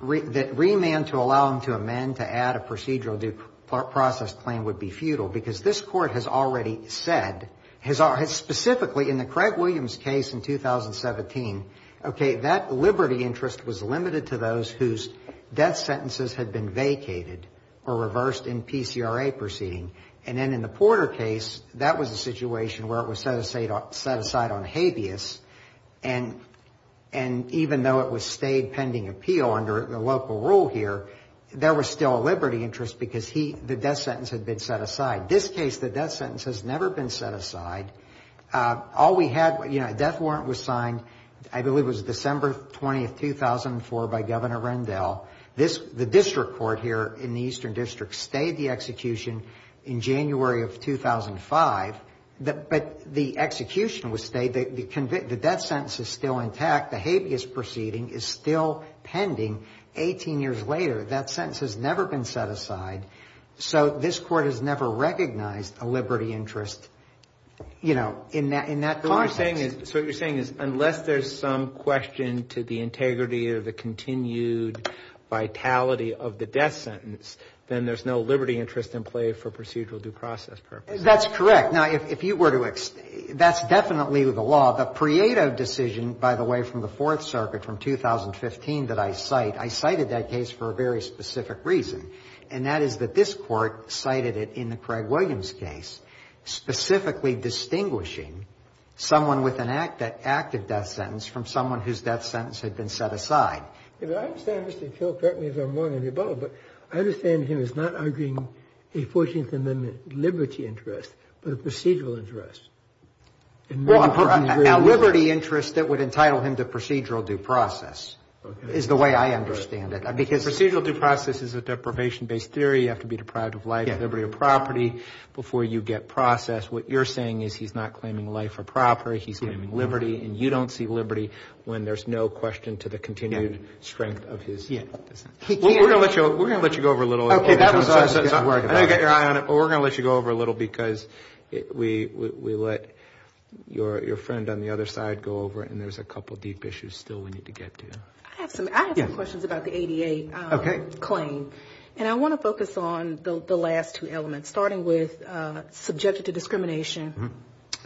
that remand to allow him to amend, to add a procedural due process claim would be futile, because this Court has already said, has specifically in the Craig Williams case in 2017, okay, that liberty interest was limited to those whose death sentences had been vacated or reversed in PCRA proceeding. And then in the Porter case, that was a situation where it was set aside on habeas, and even though it was stayed pending appeal under the local rule here, there was still a liberty interest because the death sentence had been set aside. This case, the death sentence has never been set aside. All we had, you know, a death warrant was signed, I believe it was December 20th, 2004, by Governor Rendell. The district court here in the Eastern District stayed the execution in January of 2005, but the execution was stayed. The death sentence is still intact. The habeas proceeding is still pending. Eighteen years later, that sentence has never been set aside. So this Court has never recognized a liberty interest, you know, in that context. So what you're saying is unless there's some question to the integrity or the continued vitality of the death sentence, then there's no liberty interest in play for procedural due process purposes. That's correct. Now, if you were to explain, that's definitely the law. The Prieto decision, by the way, from the Fourth Circuit from 2015 that I cite, I cited that case for a very specific reason, and that is that this Court cited it in the Craig Williams case, specifically distinguishing someone with an active death sentence from someone whose death sentence had been set aside. I understand Mr. Till correct me if I'm wrong in the above, but I understand him as not arguing a 14th Amendment liberty interest, but a procedural interest. Well, a liberty interest that would entitle him to procedural due process is the way I understand it. Because procedural due process is a deprivation-based theory. You have to be deprived of life, liberty, or property before you get process. What you're saying is he's not claiming life or property. He's claiming liberty, and you don't see liberty when there's no question to the continued strength of his death. Well, we're going to let you go over a little. Okay. I didn't get your eye on it, but we're going to let you go over a little because we let your friend on the other side go over it, and there's a couple of deep issues still we need to get to. I have some questions about the ADA claim, and I want to focus on the last two elements, starting with subjected to discrimination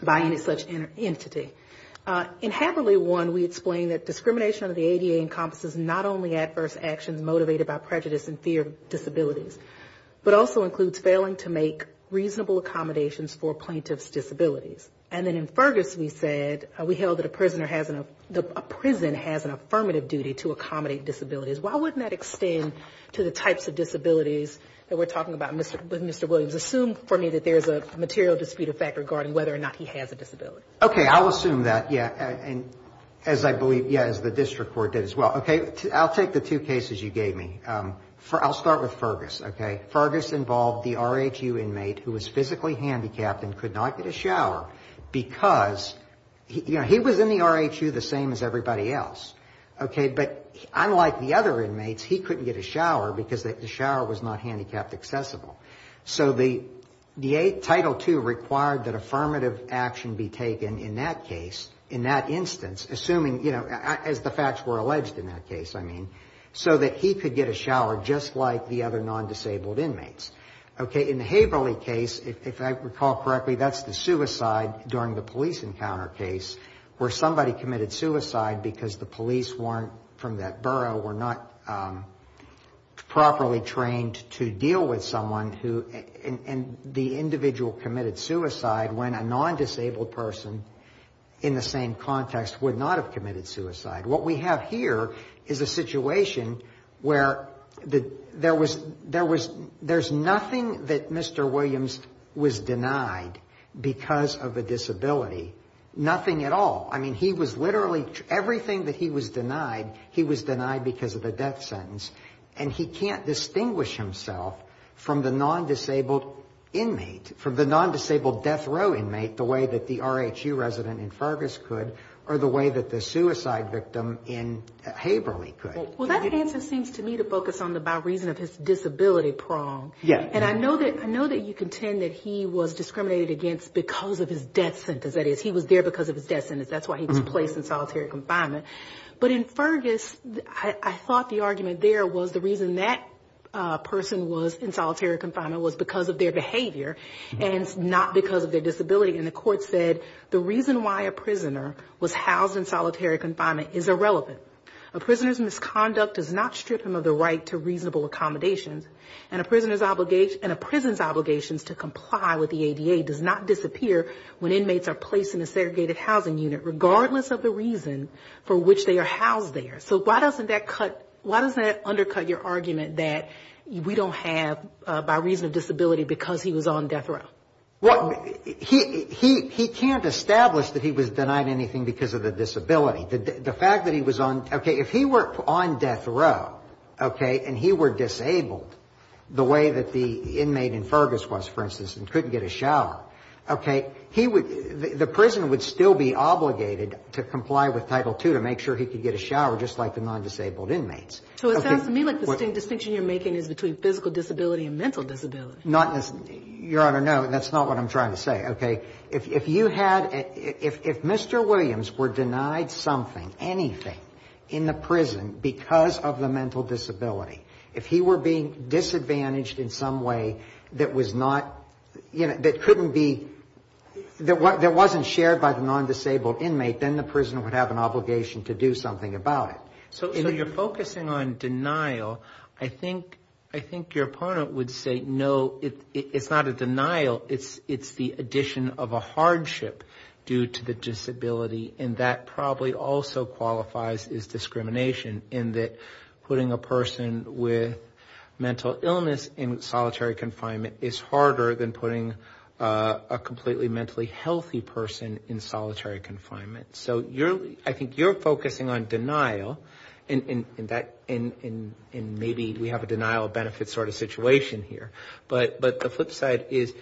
by any such entity. In Haberly 1, we explain that discrimination under the ADA encompasses not only adverse actions motivated by prejudice and fear of disabilities, but also includes failing to make reasonable accommodations for plaintiff's disabilities. And then in Fergus, we said, we held that a prisoner has a prison has an affirmative duty to accommodate disabilities. Why wouldn't that extend to the types of disabilities that we're talking about with Mr. Williams? Assume for me that there's a material dispute of fact regarding whether or not he has a disability. Okay. I'll assume that, yeah, and as I believe, yeah, as the district court did as well. Okay. I'll take the two cases you gave me. I'll start with Fergus. Okay. Fergus involved the RHU inmate who was physically handicapped and could not get a shower because, you know, he was in the RHU the same as everybody else. Okay. But unlike the other inmates, he couldn't get a shower because the shower was not handicapped accessible. So the Title II required that affirmative action be taken in that case, in that instance, assuming, you know, as the facts were alleged in that case, I mean, so that he could get a shower just like the other non-disabled inmates. Okay. In the Haberly case, if I recall correctly, that's the suicide during the police encounter case where somebody committed suicide because the police weren't, from that borough, were not properly trained to deal with someone who, and the individual committed suicide when a non-disabled person in the same context would not have committed suicide. What we have here is a situation where there was, there's nothing that Mr. Williams was denied because of a disability. Nothing at all. I mean, he was literally, everything that he was denied, he was denied because of a death sentence. And he can't distinguish himself from the non-disabled inmate, from the non-disabled death row inmate, the way that the RHU resident in Fergus could or the way that the suicide victim in Haberly could. Well, that answer seems to me to focus on the by reason of his disability prong. Yes. And I know that you contend that he was discriminated against because of his death sentence. That is, he was there because of his death sentence. That's why he was placed in solitary confinement. But in Fergus, I thought the argument there was the reason that person was in solitary confinement was because of their behavior, and not because of their disability. And the court said the reason why a prisoner was housed in solitary confinement is irrelevant. A prisoner's misconduct does not strip him of the right to reasonable accommodations, and a prisoner's obligations to comply with the ADA does not disappear when inmates are placed in a segregated housing unit, regardless of the reason for which they are housed there. So why doesn't that cut, why doesn't that undercut your argument that we don't have by reason of disability because he was on death row? Well, he can't establish that he was denied anything because of the disability. The fact that he was on, okay, if he were on death row, okay, and he were disabled the way that the inmate in Fergus was, for instance, and couldn't get a shower, okay, he would, the prison would still be obligated to comply with Title II to make sure he could get a shower, just like the non-disabled inmates. So it sounds to me like the distinction you're making is between physical disability and mental disability. Not, Your Honor, no. That's not what I'm trying to say. Okay, if you had, if Mr. Williams were denied something, anything, in the prison because of the mental disability, if he were being disadvantaged in some way that was not, you know, that couldn't be, that wasn't shared by the non-disabled inmate, then the prison would have an obligation to do something about it. So you're focusing on denial. I think your opponent would say, no, it's not a denial, it's the addition of a hardship due to the disability, and that probably also qualifies as discrimination in that putting a person with mental illness in solitary confinement is harder than putting a completely mentally healthy person in solitary confinement. So I think you're focusing on denial, and maybe we have a denial of benefit sort of situation here. But the flip side is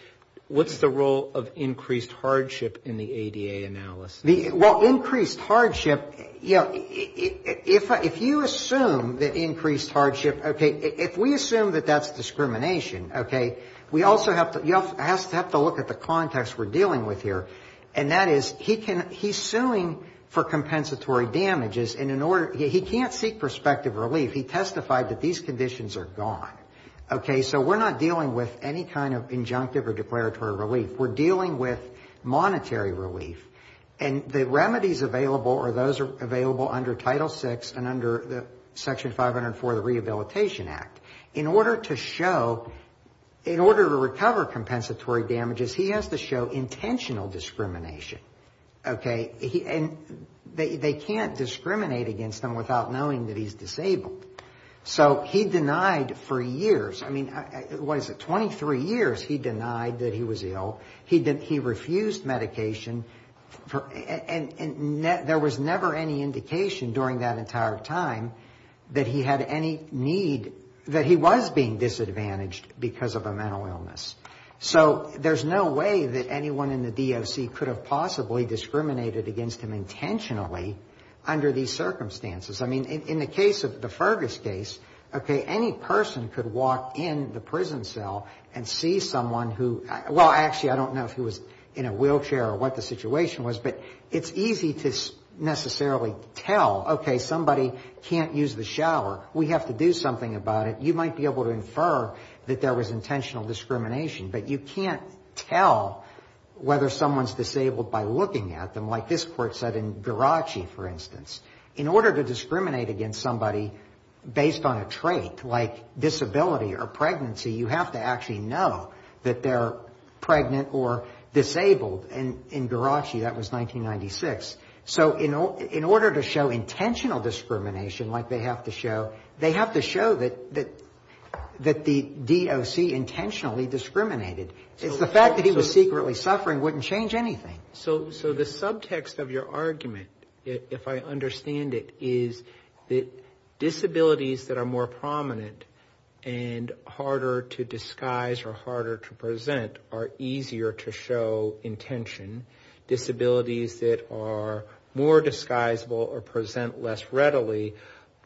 what's the role of increased hardship in the ADA analysis? Well, increased hardship, you know, if you assume that increased hardship, okay, if we assume that that's discrimination, okay, we also have to, you have to look at the context we're dealing with here, and that is he can, he's suing for compensatory damages, and in order, he can't seek prospective relief. He testified that these conditions are gone. Okay, so we're not dealing with any kind of injunctive or declaratory relief. We're dealing with monetary relief, and the remedies available are those available under Title VI and under Section 504 of the Rehabilitation Act. In order to show, in order to recover compensatory damages, he has to show intentional discrimination. Okay? And they can't discriminate against him without knowing that he's disabled. So he denied for years, I mean, what is it, 23 years, he denied that he was ill, he refused medication, and there was never any indication during that entire time that he had any need that he was being disadvantaged because of a mental illness. So there's no way that anyone in the DOC could have possibly discriminated against him intentionally under these circumstances. I mean, in the case of the Fergus case, okay, any person could walk in the prison cell and see someone who, well, actually, I don't know if he was in a wheelchair or what the situation was, but it's easy to necessarily tell, okay, somebody can't use the wheelchair, you might be able to infer that there was intentional discrimination, but you can't tell whether someone's disabled by looking at them, like this court said in Garachi, for instance. In order to discriminate against somebody based on a trait, like disability or pregnancy, you have to actually know that they're pregnant or disabled. And in Garachi, that was 1996. So in order to show intentional discrimination, like they have to show, they have to show that the DOC intentionally discriminated. It's the fact that he was secretly suffering wouldn't change anything. So the subtext of your argument, if I understand it, is that disabilities that are more prominent and harder to disguise or harder to present are easier to show intention. Disabilities that are more disguisable or present less risk are easier to show intention. And so you can readily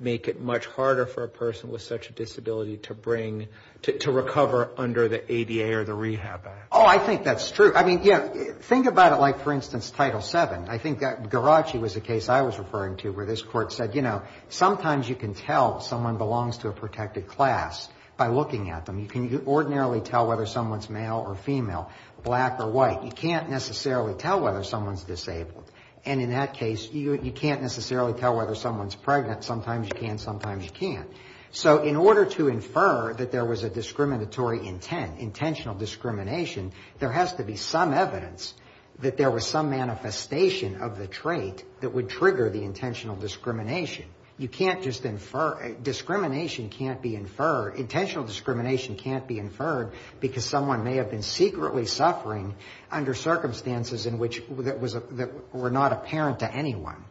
make it much harder for a person with such a disability to bring, to recover under the ADA or the Rehab Act. Oh, I think that's true. I mean, yeah, think about it like, for instance, Title VII. I think Garachi was a case I was referring to where this court said, you know, sometimes you can tell someone belongs to a protected class by looking at them. You can ordinarily tell whether someone's male or female, black or white. You can't necessarily tell whether someone's disabled. And in that case, you can't necessarily tell whether someone's pregnant. Sometimes you can, sometimes you can't. So in order to infer that there was a discriminatory intent, intentional discrimination, there has to be some evidence that there was some manifestation of the trait that would trigger the intentional discrimination. You can't just infer, discrimination can't be inferred. Intentional discrimination can't be inferred because someone may have been secretly suffering under circumstances in which that were not apparent to anyone.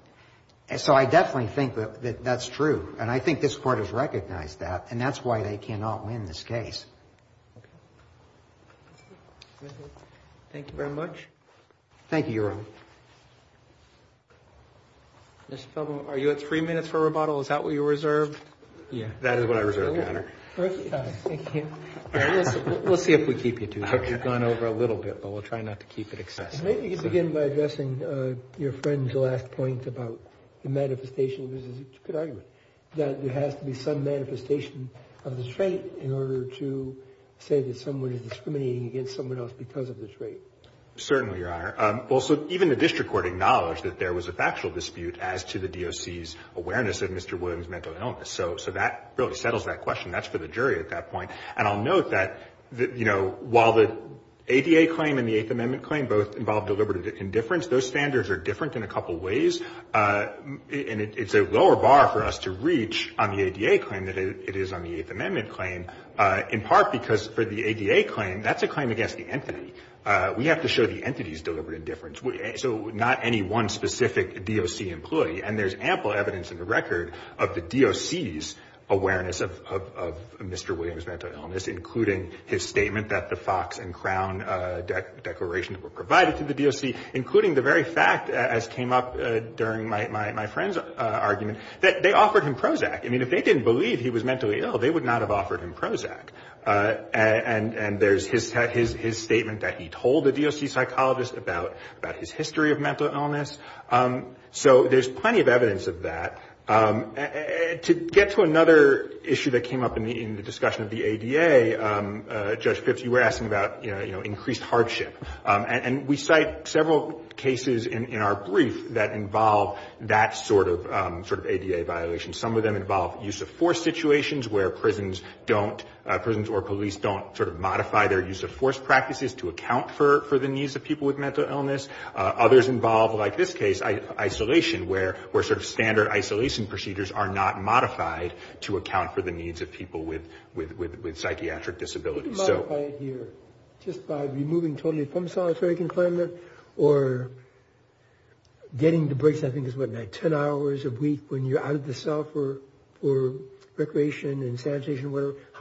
So I definitely think that that's true. And I think this Court has recognized that, and that's why they cannot win this case. Thank you very much. Thank you, Your Honor. Mr. Feldman, are you at three minutes for rebuttal? Is that what you reserved? Yeah, that is what I reserved, Your Honor. We'll see if we keep you too long. We've gone over a little bit, but we'll try not to keep it excessive. Maybe you can begin by addressing your friend's last point about the manifestation of the trait. That there has to be some manifestation of the trait in order to say that someone is discriminating against someone else because of the trait. Certainly, Your Honor. Also, even the District Court acknowledged that there was a factual dispute as to the DOC's awareness of Mr. Feldman's mental illness. So that really settles that question. That's for the jury at that point. And I'll note that, you know, while the ADA claim and the Eighth Amendment claim both involve deliberate indifference, those standards are different in a couple ways. And it's a lower bar for us to reach on the ADA claim than it is on the Eighth Amendment claim, in part because for the ADA claim, that's a claim against the entity. We have to show the entity's deliberate indifference. So not any one specific DOC employee. And there's ample evidence in the record of the DOC's awareness of Mr. Williams' mental illness, including his statement that the Fox and Crown declarations were provided to the DOC, including the very fact, as came up during my friend's argument, that they offered him Prozac. I mean, if they didn't believe he was mentally ill, they would not have offered him Prozac. And there's his statement that he told the DOC psychologist about his history of mental illness. So there's plenty of evidence of that. To get to another issue that came up in the discussion of the ADA, Judge Pipps, you were asking about, you know, increased hardship. And we cite several cases in our brief that involve that sort of ADA violation. Some of them involve use of force situations where prisons don't, prisons or police don't sort of modify their use of force practices to deal with mental illness. Others involve, like this case, isolation, where sort of standard isolation procedures are not modified to account for the needs of people with psychiatric disabilities. So... How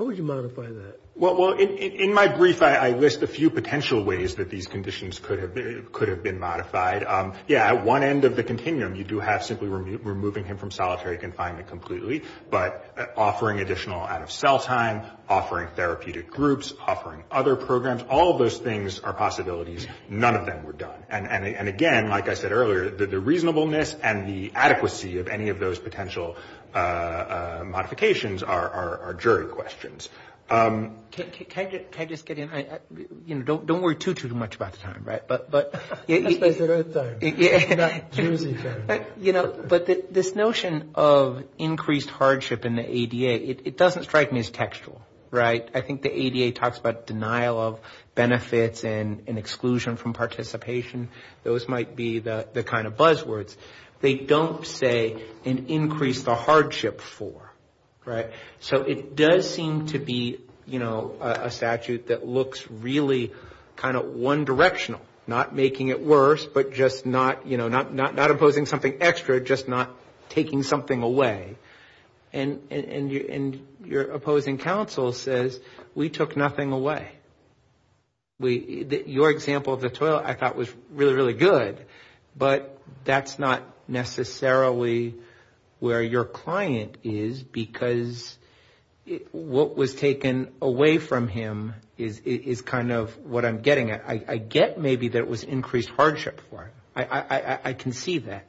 would you modify that? Well, in my brief, I list a few potential ways that these conditions could have been modified. Yeah, at one end of the continuum, you do have simply removing him from solitary confinement completely, but offering additional out-of-cell time, offering therapeutic groups, offering other programs. All of those things are possibilities. None of them were done. And again, like I said earlier, the reasonableness and the adequacy of any of those potential modifications are jury questions. Can I just get in? You know, don't worry too, too much about the time, right? But... You know, but this notion of increased hardship in the ADA, it doesn't strike me as textual, right? I think the ADA talks about denial of benefits and exclusion from participation. Those might be the kind of buzzwords. They don't say an increase the hardship for, right? So it does seem to be, you know, a statute that looks really kind of one-directional, not mutually exclusive. Making it worse, but just not, you know, not opposing something extra, just not taking something away. And your opposing counsel says, we took nothing away. Your example of the toilet I thought was really, really good, but that's not necessarily where your client is, because what was taken away from him is kind of what I'm getting at. I get maybe that it was increased hardship for him. I can see that.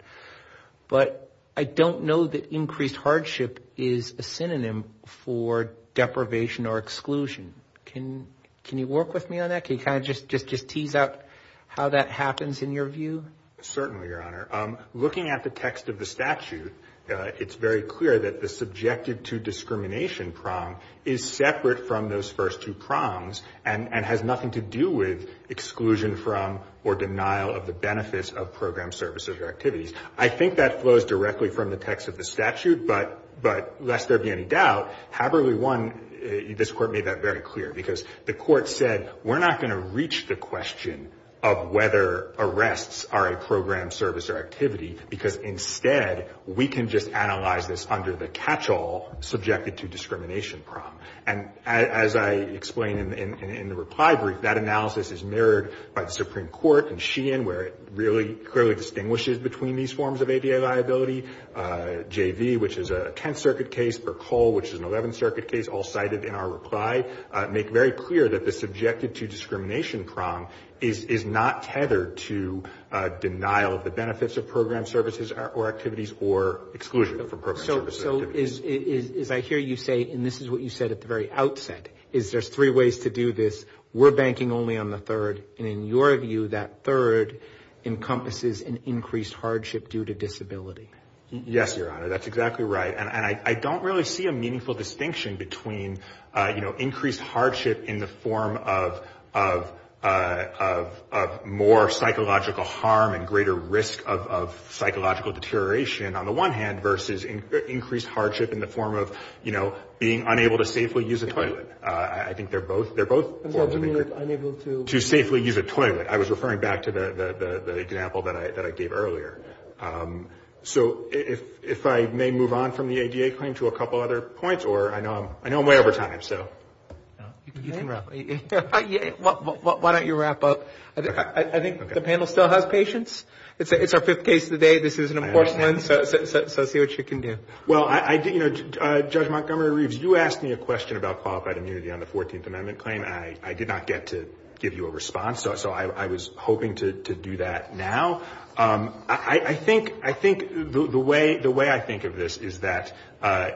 But I don't know that increased hardship is a synonym for deprivation or exclusion. Can you work with me on that? Can you kind of just tease out how that happens in your view? Certainly, Your Honor. Looking at the text of the statute, it's very clear that the subjected to discrimination prong is separate from those first two prongs, and has nothing to do with exclusion from or denial of the benefits of program services or activities. I think that flows directly from the text of the statute, but lest there be any doubt, Haberly 1, this Court made that very clear. Because the Court said, we're not going to reach the question of whether arrests are a program service or activity, because instead, we can just analyze this under the catchall subjected to discrimination prong. As I explained in the reply brief, that analysis is mirrored by the Supreme Court and Sheehan, where it really clearly distinguishes between these forms of ABA liability. JV, which is a Tenth Circuit case, Percol, which is an Eleventh Circuit case, all cited in our reply, make very clear that the subjected to discrimination prong is not tethered to denial of the benefits of program services or activities or exclusion from program services or activities. It's just three ways to do this. We're banking only on the third. And in your view, that third encompasses an increased hardship due to disability. Yes, Your Honor, that's exactly right. And I don't really see a meaningful distinction between, you know, increased hardship in the form of more psychological harm and greater risk of psychological deterioration on the one hand, versus increased hardship in the form of, you know, I think they're both forms of increased hardship. To safely use a toilet. I was referring back to the example that I gave earlier. So if I may move on from the ADA claim to a couple other points, or I know I'm way over time, so. You can wrap up. Why don't you wrap up? I think the panel still has patience. It's our fifth case of the day. This is an important one. So see what you can do. I'm not going to go into detail on the 14th Amendment claim. I did not get to give you a response. So I was hoping to do that now. I think the way I think of this is that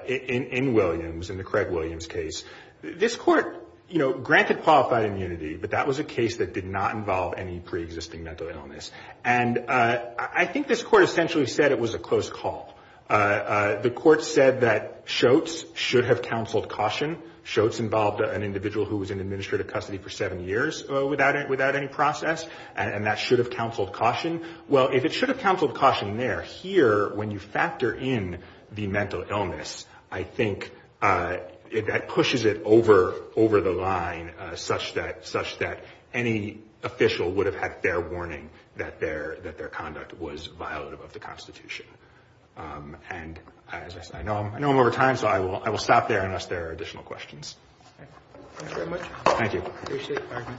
in Williams, in the Craig Williams case, this Court, you know, granted qualified immunity, but that was a case that did not involve any preexisting mental illness. And I think this Court essentially said it was a close call. The Court said that Schultz should have counseled caution. Schultz involved an individual who was in administrative custody for seven years without any process, and that should have counseled caution. Well, if it should have counseled caution there, here, when you factor in the mental illness, I think that pushes it over the line, such that any official would have had fair warning that their conduct was violative of the Constitution. And as I said, I know him over time, so I will stop there unless there are additional questions. Thank you very much. Thank you.